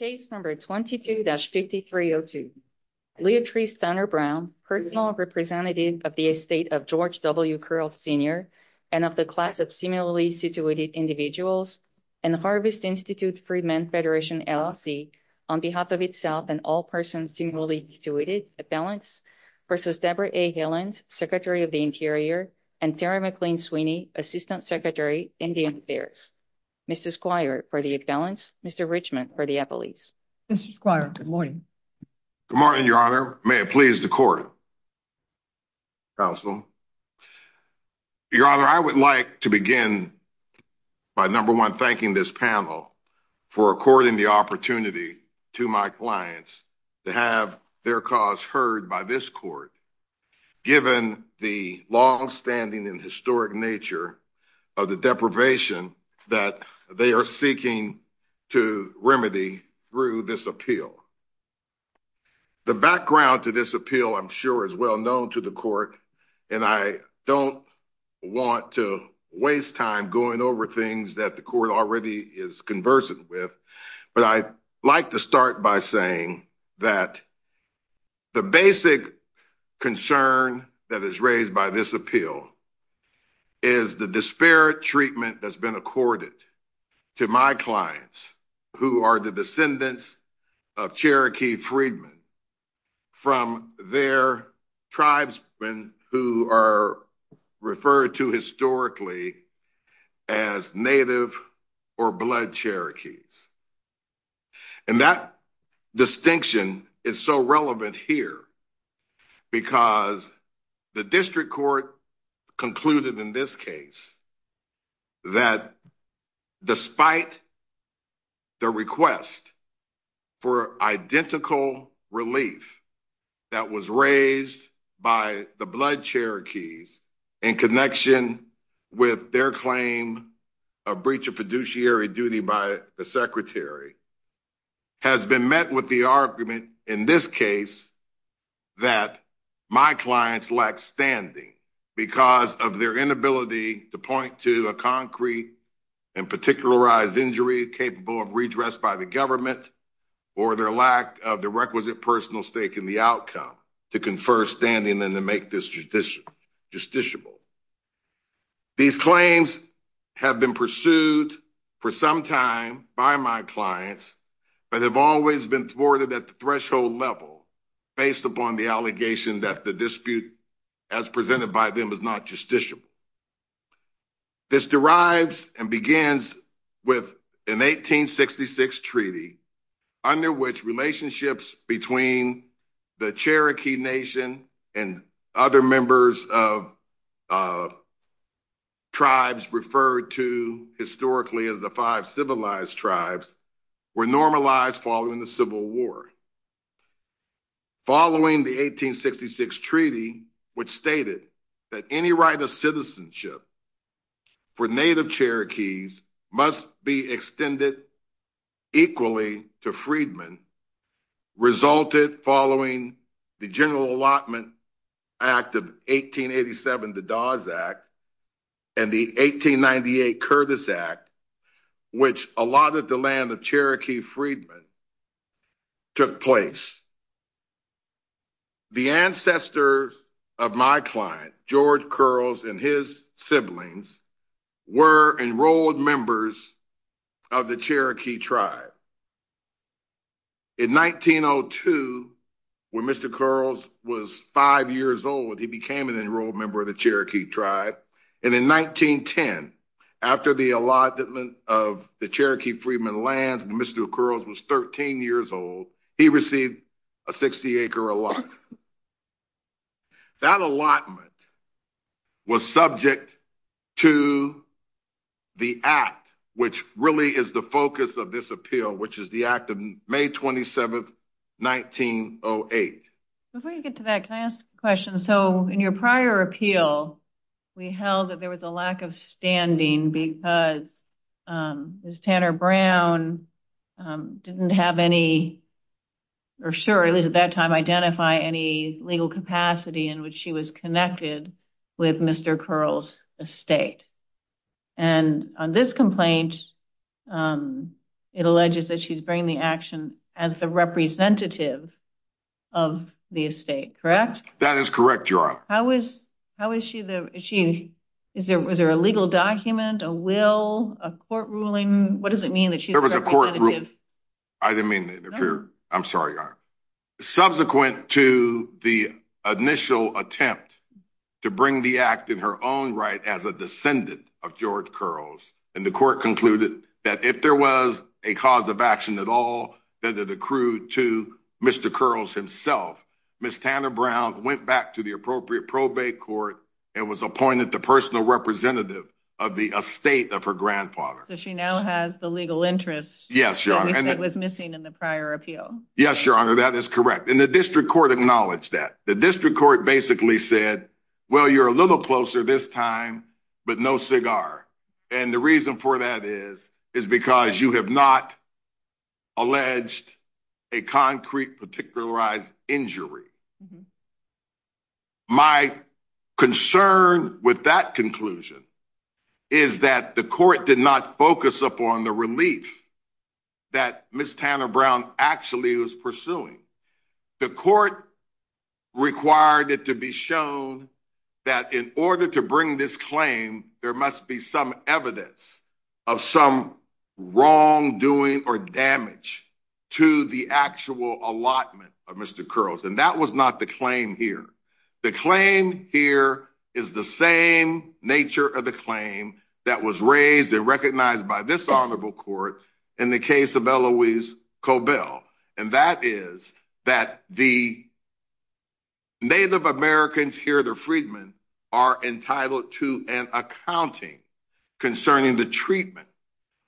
Case number 22-5302. Leatrice Tanner-Brown, personal representative of the estate of George W. Curls Sr. and of the class of similarly situated individuals and Harvest Institute Freedmen Federation LLC, on behalf of itself and all persons similarly situated, at balance, versus Debra A. Haaland, Secretary of the Interior, and Tara McLean Sweeney, Assistant Secretary, Indian Affairs. Mr. Squire, for the accountants. Mr. Richmond, for the appellees. Mr. Squire, good morning. Good morning, Your Honor. May it please the court, counsel. Your Honor, I would like to begin by, number one, thanking this panel for according the opportunity to my clients to have their cause heard by this court, given the longstanding and deprivation that they are seeking to remedy through this appeal. The background to this appeal, I'm sure, is well known to the court, and I don't want to waste time going over things that the court already is conversant with, but I'd like to start by saying that the basic concern that is accorded to my clients, who are the descendants of Cherokee freedmen from their tribesmen who are referred to historically as Native or Blood Cherokees, and that distinction is so relevant here because the district court concluded in this case that despite the request for identical relief that was raised by the Blood Cherokees in connection with their claim of breach of that my clients lack standing because of their inability to point to a concrete and particularized injury capable of redress by the government or their lack of the requisite personal stake in the outcome to confer standing and to make this judiciable. These claims have been pursued for some time by my clients, but have always been thwarted at the base upon the allegation that the dispute as presented by them is not justiciable. This derives and begins with an 1866 treaty under which relationships between the Cherokee nation and other members of tribes referred to historically as the five civilized tribes were normalized following the Civil War. Following the 1866 treaty, which stated that any right of citizenship for Native Cherokees must be extended equally to freedmen, resulted following the General Allotment Act of 1887, the Dawes Act, and the 1898 Curtis Act, which allotted the land of Cherokee freedmen, took place. The ancestors of my client, George Curls, and his siblings were enrolled members of the Cherokee tribe. In 1902, when Mr. Curls was five years old, he became an enrolled member of the Cherokee tribe. In 1910, after the allotment of the Cherokee freedmen lands, when Mr. Curls was 13 years old, he received a 60-acre allotment. That allotment was subject to the Act, which really is the focus of this appeal, which is the Act of May 27, 1908. Before you get to that, can I ask a question? In your prior appeal, we held that there was a lack of standing because Ms. Tanner Brown didn't have any, or sure, at least at that time, identify any legal capacity in which she was connected with Mr. Curls' estate. On this complaint, it alleges that she's bringing the Act in her own right as a descendant of George Curls. The court concluded that if there was a cause of action at all, that it accrued to Mr. Curls himself. Ms. Tanner Brown went back the appropriate probate court and was appointed the personal representative of the estate of her grandfather. She now has the legal interest that was missing in the prior appeal. Yes, Your Honor, that is correct. The district court acknowledged that. The district court basically said, well, you're a little closer this time, but no cigar. The reason for that is because you have not alleged a concrete particularized injury. My concern with that conclusion is that the court did not focus upon the relief that Ms. Tanner Brown actually was pursuing. The court required it to be shown that in order to bring this claim, there must be some evidence of some wrongdoing or damage to the actual allotment of Mr. Curls. That was not the claim here. The claim here is the same nature of the claim that was raised and recognized by this honorable court in the case of Eloise here. The freedmen are entitled to an accounting concerning the treatment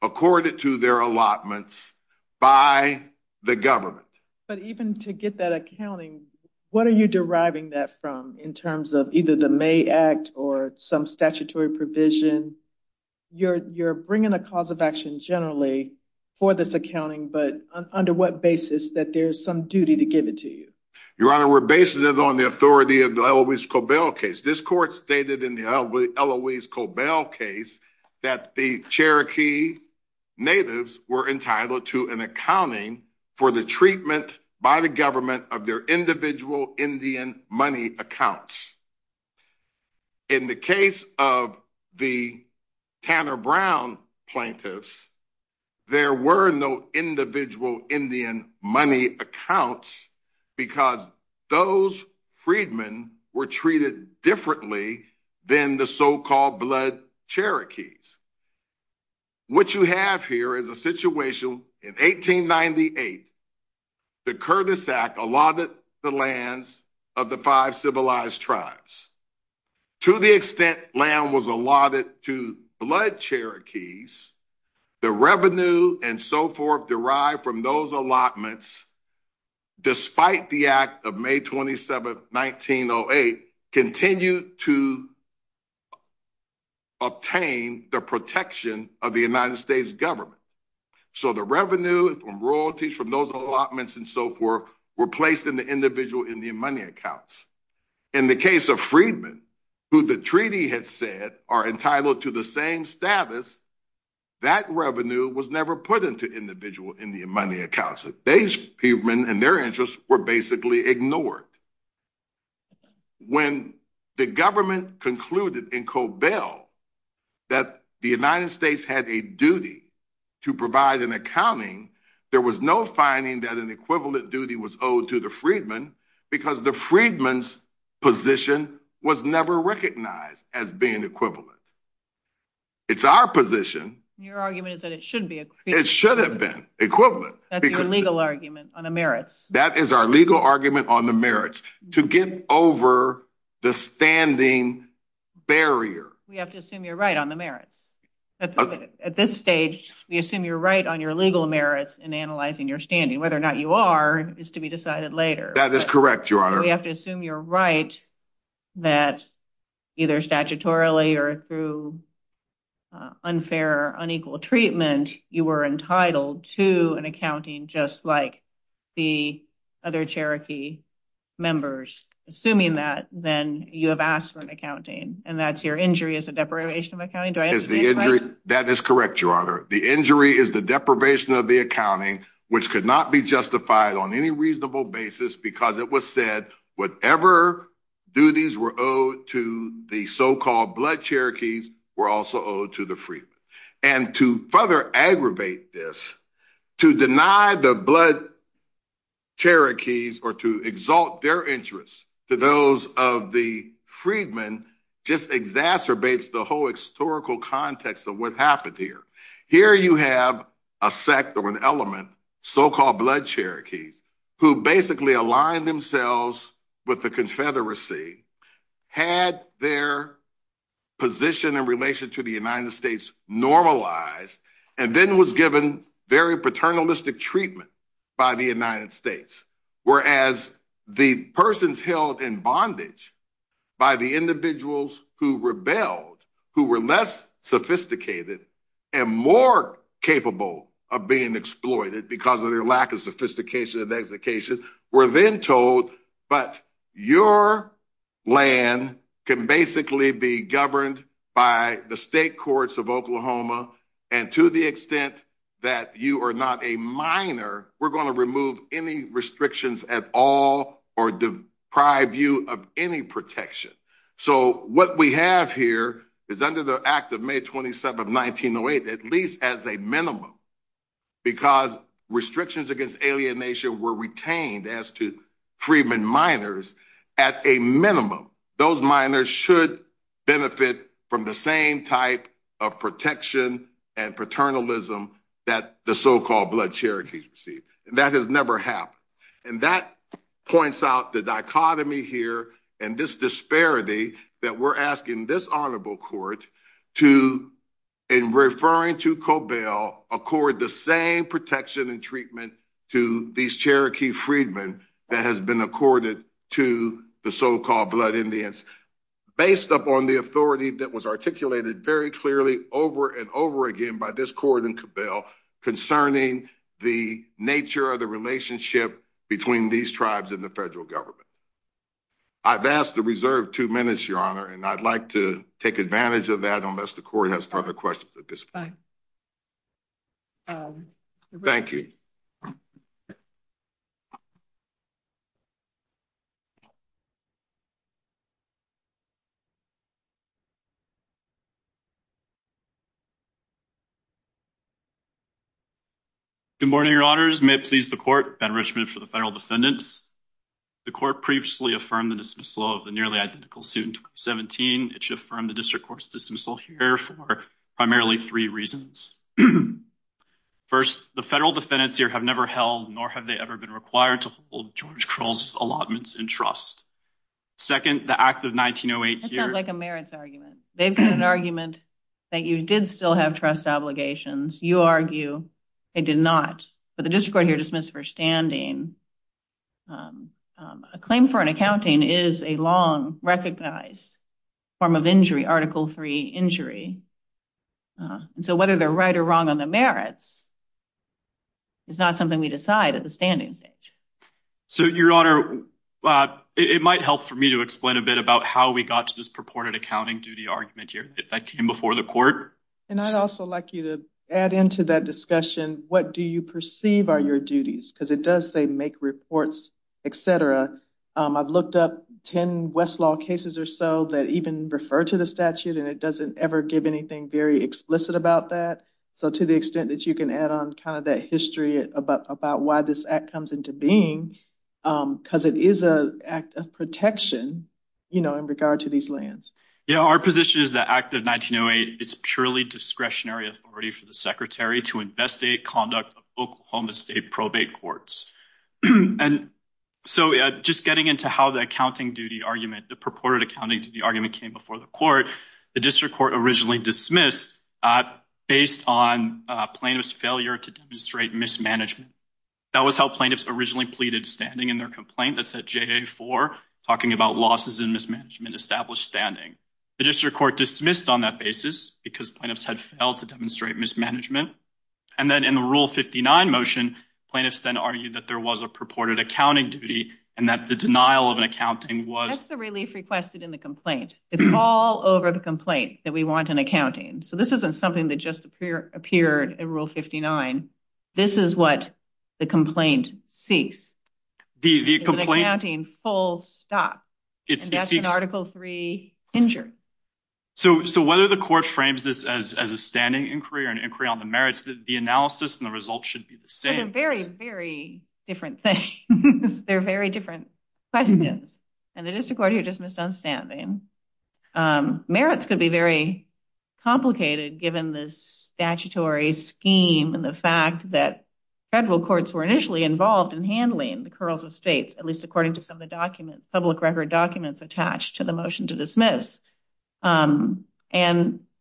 accorded to their allotments by the government. But even to get that accounting, what are you deriving that from in terms of either the May Act or some statutory provision? You're bringing a cause of action generally for this accounting, but under what basis that there's some duty to This court stated in the Eloise Cobell case that the Cherokee natives were entitled to an accounting for the treatment by the government of their individual Indian money accounts. In the case of the Tanner Brown plaintiffs, there were no individual Indian money accounts because those freedmen were treated differently than the so-called blood Cherokees. What you have here is a situation in 1898, the Curtis Act allotted the lands of the five civilized tribes. To the extent land was allotted to blood Cherokees, the revenue and so forth derived from those allotments, despite the act of May 27th, 1908, continued to obtain the protection of the United States government. So the revenue and royalties from those allotments and so forth were placed in the individual Indian money accounts. In the case of freedmen, who the treaty had said are entitled to the same status, that revenue was never put into individual Indian money accounts. These freedmen and their interests were basically ignored. When the government concluded in Cobell that the United States had a duty to provide an accounting, there was no finding that an equivalent duty was owed to the freedmen because the freedman's position was never recognized as being equivalent. It's our position. Your argument is that it should be. It should have been equivalent. That's your legal argument on the merits. That is our legal argument on the merits to get over the standing barrier. We have to assume you're right on the merits. At this stage, we assume you're right on your legal merits in analyzing your standing. Whether or not you are is to be decided later. That is correct, Your Honor. We have to assume you're right that either statutorily or through unfair or unequal treatment, you were entitled to an accounting just like the other Cherokee members. Assuming that, then you have asked for an accounting and that's your injury as a deprivation of accounting. Do I answer this question? That is correct, Your Honor. The injury is the deprivation of the accounting which could not be justified on any reasonable basis because it was said whatever duties were owed to the so-called blood Cherokees were also owed to the freedmen. To further aggravate this, to deny the blood Cherokees or to exalt their interests to those of the freedmen just exacerbates the whole historical context of what happened here. Here you have a sect or an element, so-called blood Cherokees, who basically aligned themselves with the confederacy, had their position in relation to the United States normalized, and then was given very paternalistic treatment by the United States. Whereas the persons held in bondage by the individuals who rebelled, who were less sophisticated and more capable of being exploited because of their lack of sophistication and execution, were then told, but your land can basically be governed by the state courts of Oklahoma, and to the extent that you are not a minor, we're going to remove any restrictions at all or deprive you of any protection. So what we have here is under the act of May 27, 1908, at least as a minimum, because restrictions against alienation were retained as to freedmen minors, at a minimum, those minors should benefit from the same type of protection and paternalism that the so-called blood Cherokees received. And that has never happened. And that points out the dichotomy here and this disparity that we're asking this honorable court to, in referring to Cobell, accord the same protection and treatment to these Cherokee freedmen that has been accorded to the so-called blood Indians, based upon the authority that was articulated very clearly over and over again by this court in Cobell concerning the nature of the relationship between these tribes and the federal government. I've asked to reserve two minutes, Your Honor, and I'd like to take advantage of that unless the court has further questions at this point. Thank you. Thank you. Good morning, Your Honors. May it please the court, Ben Richmond for the federal defendants. The court previously affirmed the dismissal of the nearly identical suit in 2017. It should affirm the district court's dismissal here for primarily three reasons. First, the federal defendants here have never held nor have they ever been required to hold George Trust. Second, the act of 1908 here- That sounds like a merits argument. They've got an argument that you did still have trust obligations. You argue they did not, but the district court here dismissed for standing. A claim for an accounting is a long recognized form of injury, Article III injury. And so whether they're right or wrong on the merits is not something we decide at the standing stage. So, Your Honor, it might help for me to explain a bit about how we got to this purported accounting duty argument here that came before the court. And I'd also like you to add into that discussion, what do you perceive are your duties? Because it does say make reports, etc. I've looked up 10 Westlaw cases or so that even refer to the statute and it doesn't ever give anything very explicit about that. So to the extent that you can add on kind of that history about why this comes into being, because it is an act of protection in regard to these lands. Yeah. Our position is the act of 1908, it's purely discretionary authority for the secretary to investigate conduct of Oklahoma State probate courts. And so just getting into how the accounting duty argument, the purported accounting duty argument came before the court, the district court originally dismissed based on plaintiff's failure to demonstrate mismanagement. That was originally pleaded standing in their complaint that said JA4 talking about losses in mismanagement established standing. The district court dismissed on that basis because plaintiffs had failed to demonstrate mismanagement. And then in the Rule 59 motion, plaintiffs then argued that there was a purported accounting duty and that the denial of an accounting was- That's the relief requested in the complaint. It's all over the complaint that we want an accounting. So this isn't something that just appeared in Rule 59. This is what the complaint seeks. Is an accounting full stop. And that's an Article III injury. So whether the court frames this as a standing inquiry or an inquiry on the merits, the analysis and the results should be the same. But they're very, very different things. They're very different questions. And the district court here just statutory scheme and the fact that federal courts were initially involved in handling the curls of states, at least according to some of the documents, public record documents attached to the motion to dismiss. And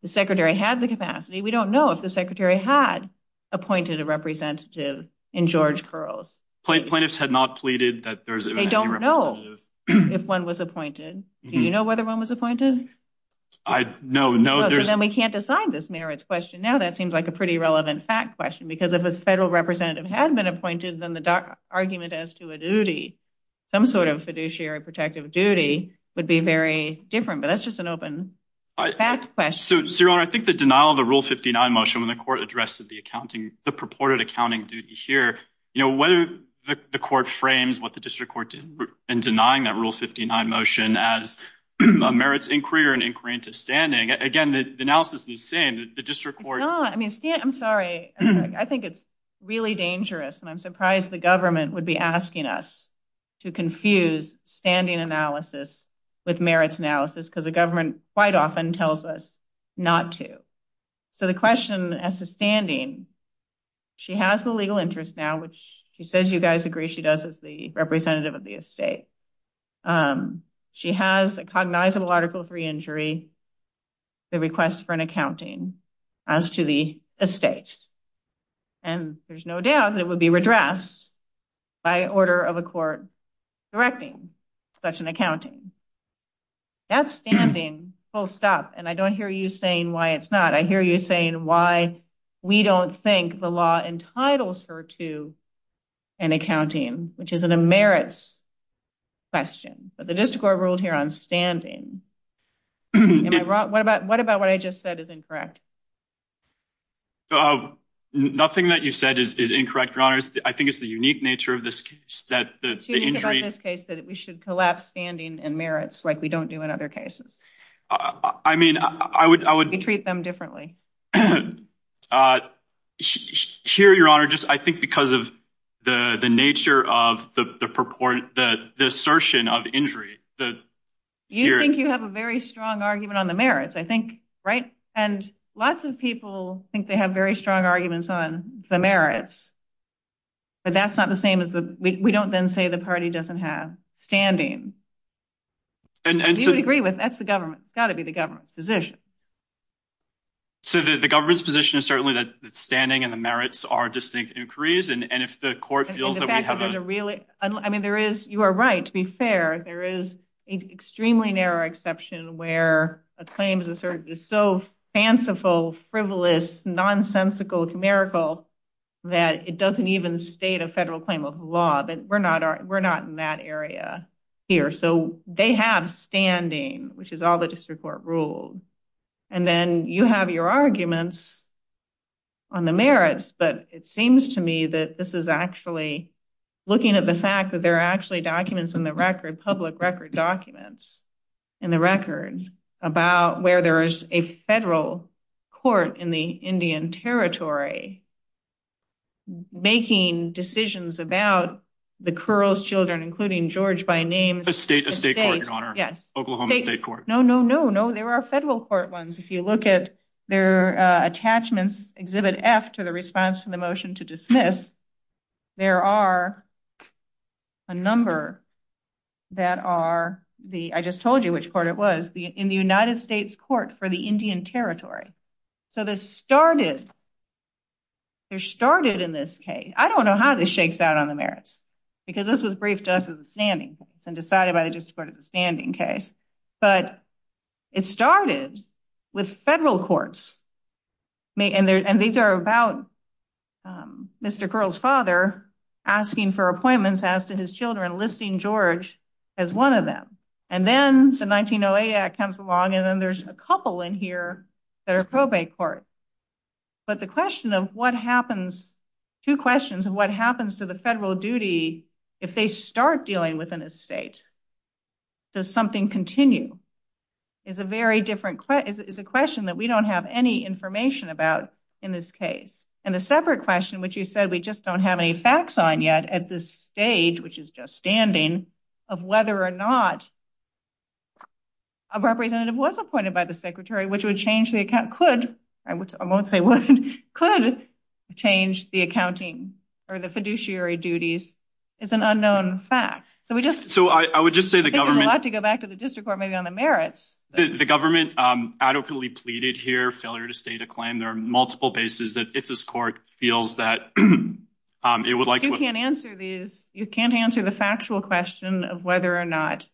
the secretary had the capacity. We don't know if the secretary had appointed a representative in George Curls. Plaintiffs had not pleaded that there's- They don't know if one was appointed. Do you know whether one was appointed? I- No, no. So then we can't decide this merits question. Now that seems like a pretty relevant fact question because if a federal representative had been appointed, then the argument as to a duty, some sort of fiduciary protective duty, would be very different. But that's just an open fact question. So, Your Honor, I think the denial of the Rule 59 motion when the court addresses the accounting, the purported accounting duty here, you know, whether the court frames what standing. Again, the analysis is the same. The district court- It's not. I mean, I'm sorry. I think it's really dangerous. And I'm surprised the government would be asking us to confuse standing analysis with merits analysis because the government quite often tells us not to. So the question as to standing, she has the legal interest now, which she says you guys agree she does as the representative of the estate. Um, she has a cognizable Article 3 injury, the request for an accounting as to the estate. And there's no doubt that it would be redressed by order of a court directing such an accounting. That's standing, full stop. And I don't hear you saying why it's not. I hear you saying why we don't think the law entitles her to an accounting, which isn't a merits question. But the district court ruled here on standing. What about what I just said is incorrect? Nothing that you said is incorrect, Your Honor. I think it's the unique nature of this case that- It's unique about this case that we should collapse standing and merits like we don't do in other cases. I mean, I would- We treat them differently. Uh, here, Your Honor, just I think because of the the nature of the purport that the assertion of injury that- You think you have a very strong argument on the merits, I think, right? And lots of people think they have very strong arguments on the merits. But that's not the same as the- We don't then say the party doesn't have standing. And you agree with that's the government. It's got to be the government's position. So the government's position is standing and the merits are distinct inquiries. And if the court feels that we have a- And the fact that there's a really- I mean, there is- You are right, to be fair. There is an extremely narrow exception where a claim is asserted is so fanciful, frivolous, nonsensical, commerical that it doesn't even state a federal claim of law. But we're not in that area here. So they have standing, which is all the district court ruled. And then you have your arguments on the merits. But it seems to me that this is actually looking at the fact that there are actually documents in the record, public record documents in the record about where there is a federal court in the Indian Territory making decisions about the Curls children, including George by name- A state court, Your Honor. Yes. Oklahoma State Court. No, no, no, no. There are federal court ones. If you look at their attachments, Exhibit F to the response to the motion to dismiss, there are a number that are the- I just told you which court it was- in the United States Court for the Indian Territory. So this started in this case. I don't know how this shakes out on the merits because this was briefed to us and decided by the district court as a standing case. But it started with federal courts. And these are about Mr. Curls' father asking for appointments as to his children, listing George as one of them. And then the 1908 Act comes along, and then there's a couple in here that are probate courts. But the question of what happens- two questions of what happens to federal duty if they start dealing with an estate? Does something continue? Is a very different- is a question that we don't have any information about in this case. And the separate question, which you said we just don't have any facts on yet at this stage, which is just standing, of whether or not a representative was appointed by the secretary, which would change the account, could- I won't say would- could change the accounting or the fiduciary duties is an unknown fact. So we just- So I would just say the government- I think there's a lot to go back to the district court maybe on the merits. The government adequately pleaded here failure to state a claim. There are multiple bases that if this court feels that it would like- You can't answer these- you can't answer the factual question of whether or not-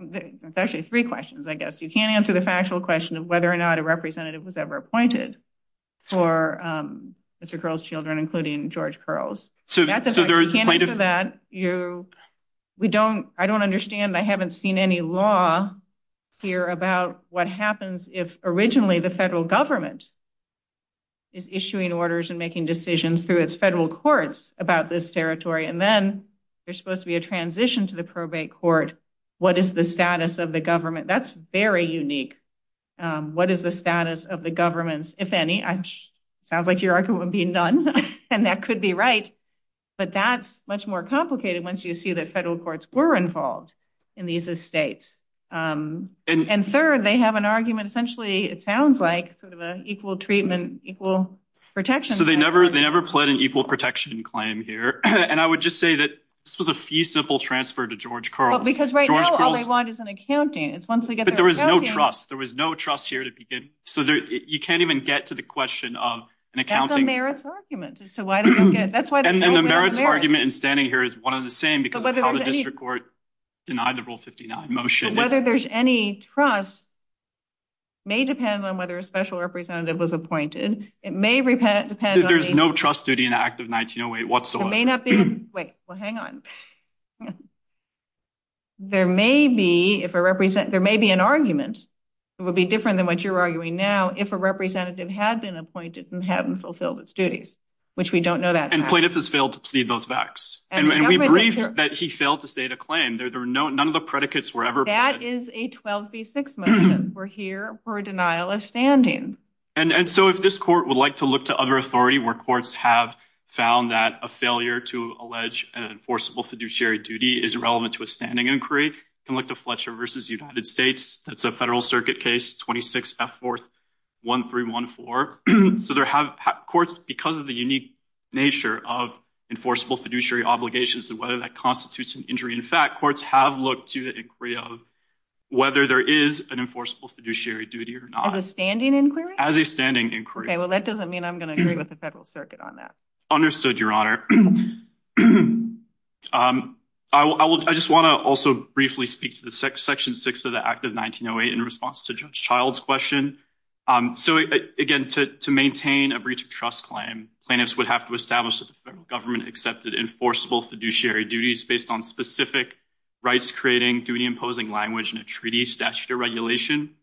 it's actually three questions, I guess. You can't answer the factual question of whether or not a representative was ever appointed for Mr. Curls' children, including George Curls. So that's- So there is- You can't answer that. You- We don't- I don't understand. I haven't seen any law here about what happens if originally the federal government is issuing orders and making decisions through its federal courts about this territory. And then there's supposed to be a transition to probate court. What is the status of the government? That's very unique. What is the status of the government's, if any? Sounds like your argument would be none. And that could be right. But that's much more complicated once you see that federal courts were involved in these estates. And third, they have an argument. Essentially, it sounds like sort of an equal treatment, equal protection. So they never- they never pled an equal protection claim here. And I would just say that this was a fee-simple transfer to George Curls. Because right now, all they want is an accounting. It's once they get their- But there was no trust. There was no trust here to begin. So you can't even get to the question of an accounting- That's a merits argument as to why they don't get- That's why- And the merits argument in standing here is one and the same because of how the district court denied the Rule 59 motion. But whether there's any trust may depend on whether a special representative was appointed. It may depend- There's no trust duty in Act of 1908 whatsoever. It may not be- Wait, well, hang on. There may be, if a represent- there may be an argument. It would be different than what you're arguing now if a representative had been appointed and hadn't fulfilled its duties, which we don't know that. And plaintiff has failed to plead those facts. And we briefed that he failed to state a claim. There were no- none of the predicates were ever- That is a 12b6 motion. We're here for a denial of standing. And so if this court would like to look to other authority where courts have found that a failure to allege an enforceable fiduciary duty is irrelevant to a standing inquiry, you can look to Fletcher v. United States. That's a federal circuit case, 26F41314. So there have- Courts, because of the unique nature of enforceable fiduciary obligations and whether that constitutes an injury in fact, courts have looked to the fiduciary duty or not. As a standing inquiry? As a standing inquiry. Okay, well, that doesn't mean I'm going to agree with the federal circuit on that. Understood, your honor. I will- I just want to also briefly speak to the section six of the act of 1908 in response to Judge Child's question. So again, to maintain a breach of trust claim, plaintiffs would have to establish that the federal government accepted enforceable fiduciary duties based on specific rights-creating, duty-imposing language, and a treaty statute of regulation.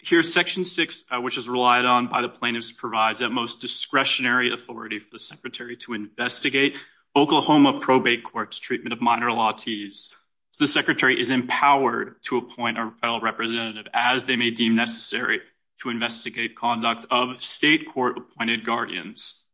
Here's section six, which is relied on by the plaintiffs provides that most discretionary authority for the secretary to investigate Oklahoma probate courts' treatment of minor lawtees. The secretary is empowered to appoint a federal representative as they may deem necessary to investigate conduct of state court-appointed guardians.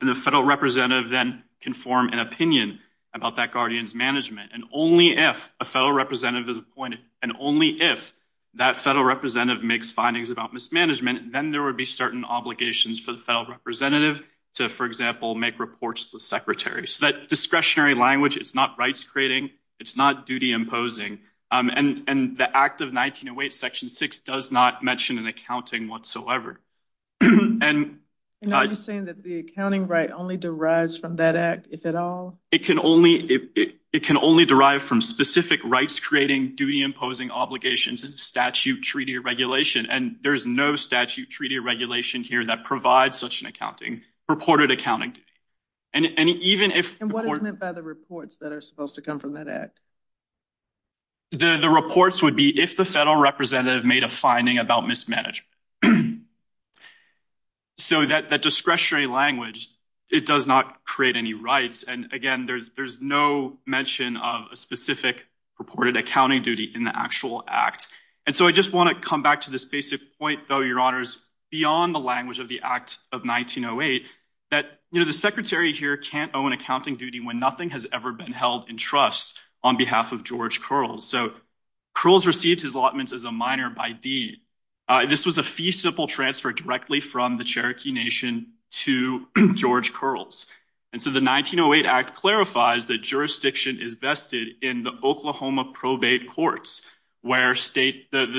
And the federal representative then can form an opinion about that guardian's management. And only if a federal representative is appointed, and only if that federal representative makes findings about mismanagement, then there would be certain obligations for the federal representative to, for example, make reports to the secretary. So that discretionary language, it's not rights-creating, it's not duty-imposing. And the act of 1908 section six does not mention an accounting whatsoever. And are you saying that the accounting right only derives from that act, if at all? It can only, it can only derive from specific rights-creating, duty-imposing obligations and statute treaty regulation. And there's no statute treaty regulation here that provides such an accounting, purported accounting. And even if... And what is meant by the reports that are supposed to come from that act? The reports would be if the federal representative made a finding about mismanagement. So that discretionary language, it does not create any rights. And again, there's no mention of a specific purported accounting duty in the actual act. And so I just want to come back to this basic point though, your honors, beyond the language of the act of 1908, that the secretary here can't own accounting duty when nothing has ever been held in trust on behalf of George Curls. So Curls received his allotments as a minor by deed. This was a feasible transfer directly from the Cherokee Nation to George Curls. And so the 1908 act clarifies that jurisdiction is vested in the Oklahoma probate courts, where the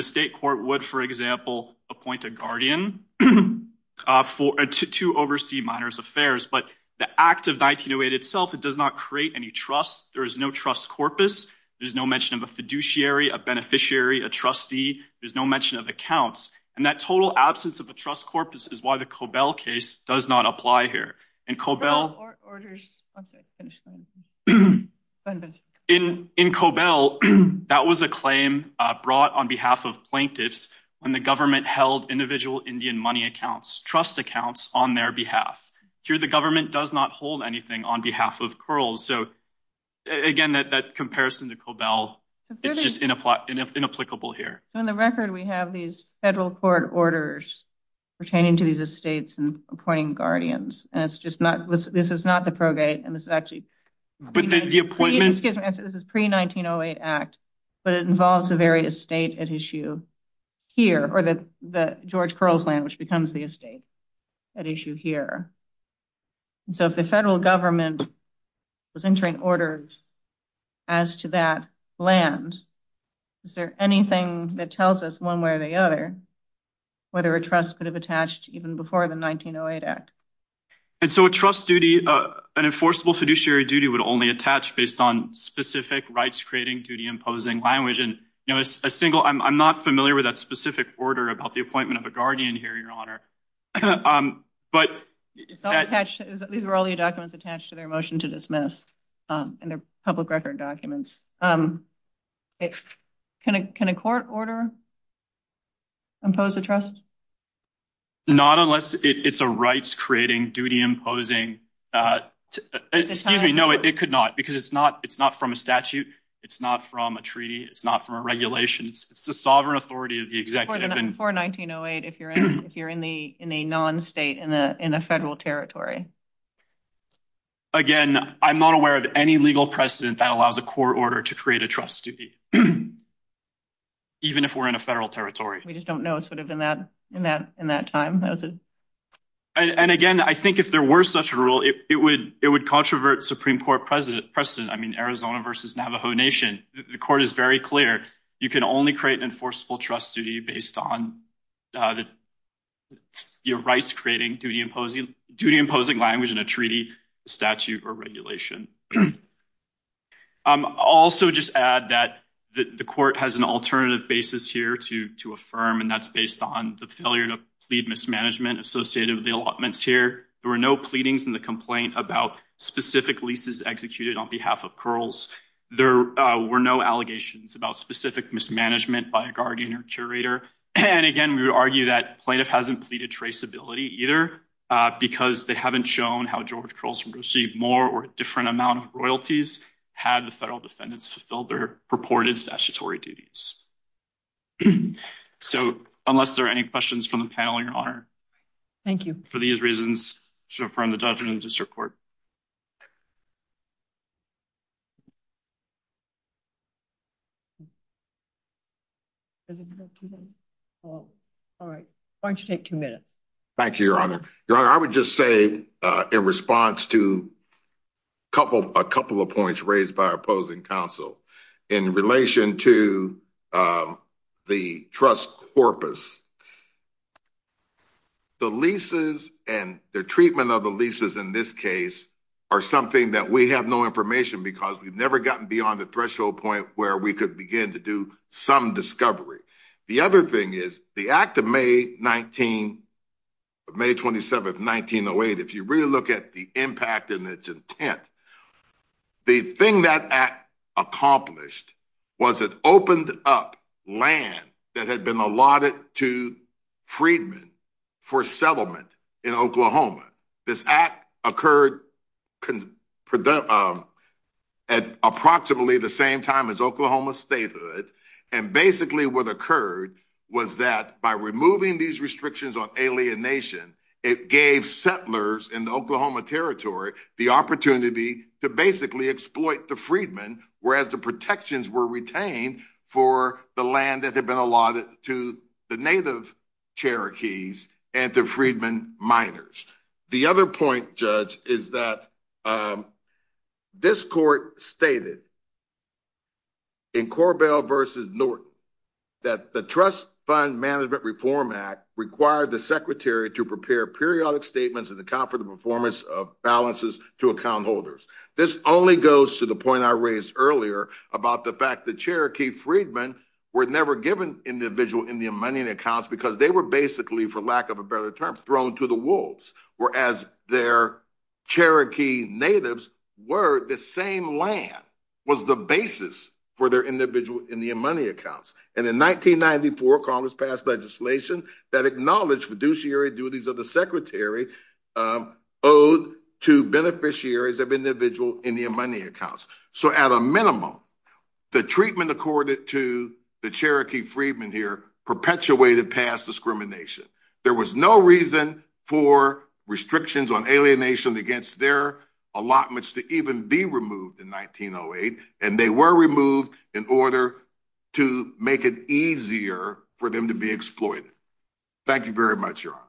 state court would, for example, appoint a guardian to oversee minors affairs. But the act of 1908 itself, does not create any trust. There is no trust corpus. There's no mention of a fiduciary, a beneficiary, a trustee. There's no mention of accounts. And that total absence of a trust corpus is why the Cobell case does not apply here. In Cobell, that was a claim brought on behalf of plaintiffs when the government held individual Indian money accounts, trust accounts on their behalf. Here, the government does not hold anything on behalf of Curls. So again, that comparison to Cobell, it's just inapplicable here. So in the record, we have these federal court orders pertaining to these estates and appointing guardians. And it's just not, this is not the probate, and this is actually... But then the appointment... Excuse me, this is pre-1908 act, but it involves a very estate at issue here, or the George Curls land, which becomes the estate at issue here. So if the federal government was entering orders as to that land, is there anything that tells us one way or the other, whether a trust could have attached even before the 1908 act? And so a trust duty, an enforceable fiduciary duty would only attach based on specific rights creating duty imposing language. And I'm not familiar with that specific order about the appointment of a guardian here, Your Honor. But... These were all the documents attached to their motion to dismiss, and they're public record documents. Can a court order impose a trust? Not unless it's a rights creating duty imposing... Excuse me, no, it could not, because it's not from a statute, it's not from a treaty, it's not from a regulation, it's the sovereign authority of the executive. Before 1908, if you're in a non-state, in a federal territory. Again, I'm not aware of any legal precedent that allows a court order to create a trust duty, even if we're in a federal territory. We just don't know. It's sort of in that time. And again, I think if there were such a rule, it would controvert Supreme Court precedent. I mean, Arizona versus Navajo Nation. The court is very clear. You can only create an enforceable trust duty based on your rights creating duty imposing language in a treaty, statute, or regulation. Also just add that the court has an alternative basis here to affirm, and that's based on the failure to plead mismanagement associated with the allotments here. There were no pleadings in the complaint about specific leases executed on behalf of Curls. There were no allegations about specific mismanagement by a guardian or curator. And again, we would argue that plaintiff hasn't pleaded traceability either, because they haven't shown how George Curls received more or different amount of royalties had the federal defendants fulfilled their purported statutory duties. So, unless there are any questions from the panel, your honor. Thank you for these reasons. So, from the judge and to support. All right. Why don't you take two minutes. Thank you, your honor. I would just say in response to a couple of points raised by the trust corpus, the leases and the treatment of the leases in this case are something that we have no information because we've never gotten beyond the threshold point where we could begin to do some discovery. The other thing is the act of May 27th, 1908, if you really look at the impact and its intent, the thing that act accomplished was it opened up land that had been allotted to Friedman for settlement in Oklahoma. This act occurred at approximately the same time as Oklahoma statehood. And basically what occurred was that by removing these restrictions on the opportunity to basically exploit the Friedman, whereas the protections were retained for the land that had been allotted to the native Cherokees and to Friedman miners. The other point, judge, is that this court stated in Corbell versus Norton that the Trust Fund Management Reform Act required the secretary to prepare periodic statements that account for the performance of balances to account holders. This only goes to the point I raised earlier about the fact that Cherokee Friedman were never given individual Indian money and accounts because they were basically, for lack of a better term, thrown to the wolves, whereas their Cherokee natives were the same land was the basis for their individual Indian money accounts. And in 1994, Congress passed legislation that acknowledged fiduciary duties of the secretary owed to beneficiaries of individual Indian money accounts. So at a minimum, the treatment accorded to the Cherokee Friedman here perpetuated past discrimination. There was no reason for restrictions on alienation against their allotments to even be removed in 1908, and they were removed in order to make it easier for them to be exploited. Thank you very much, y'all.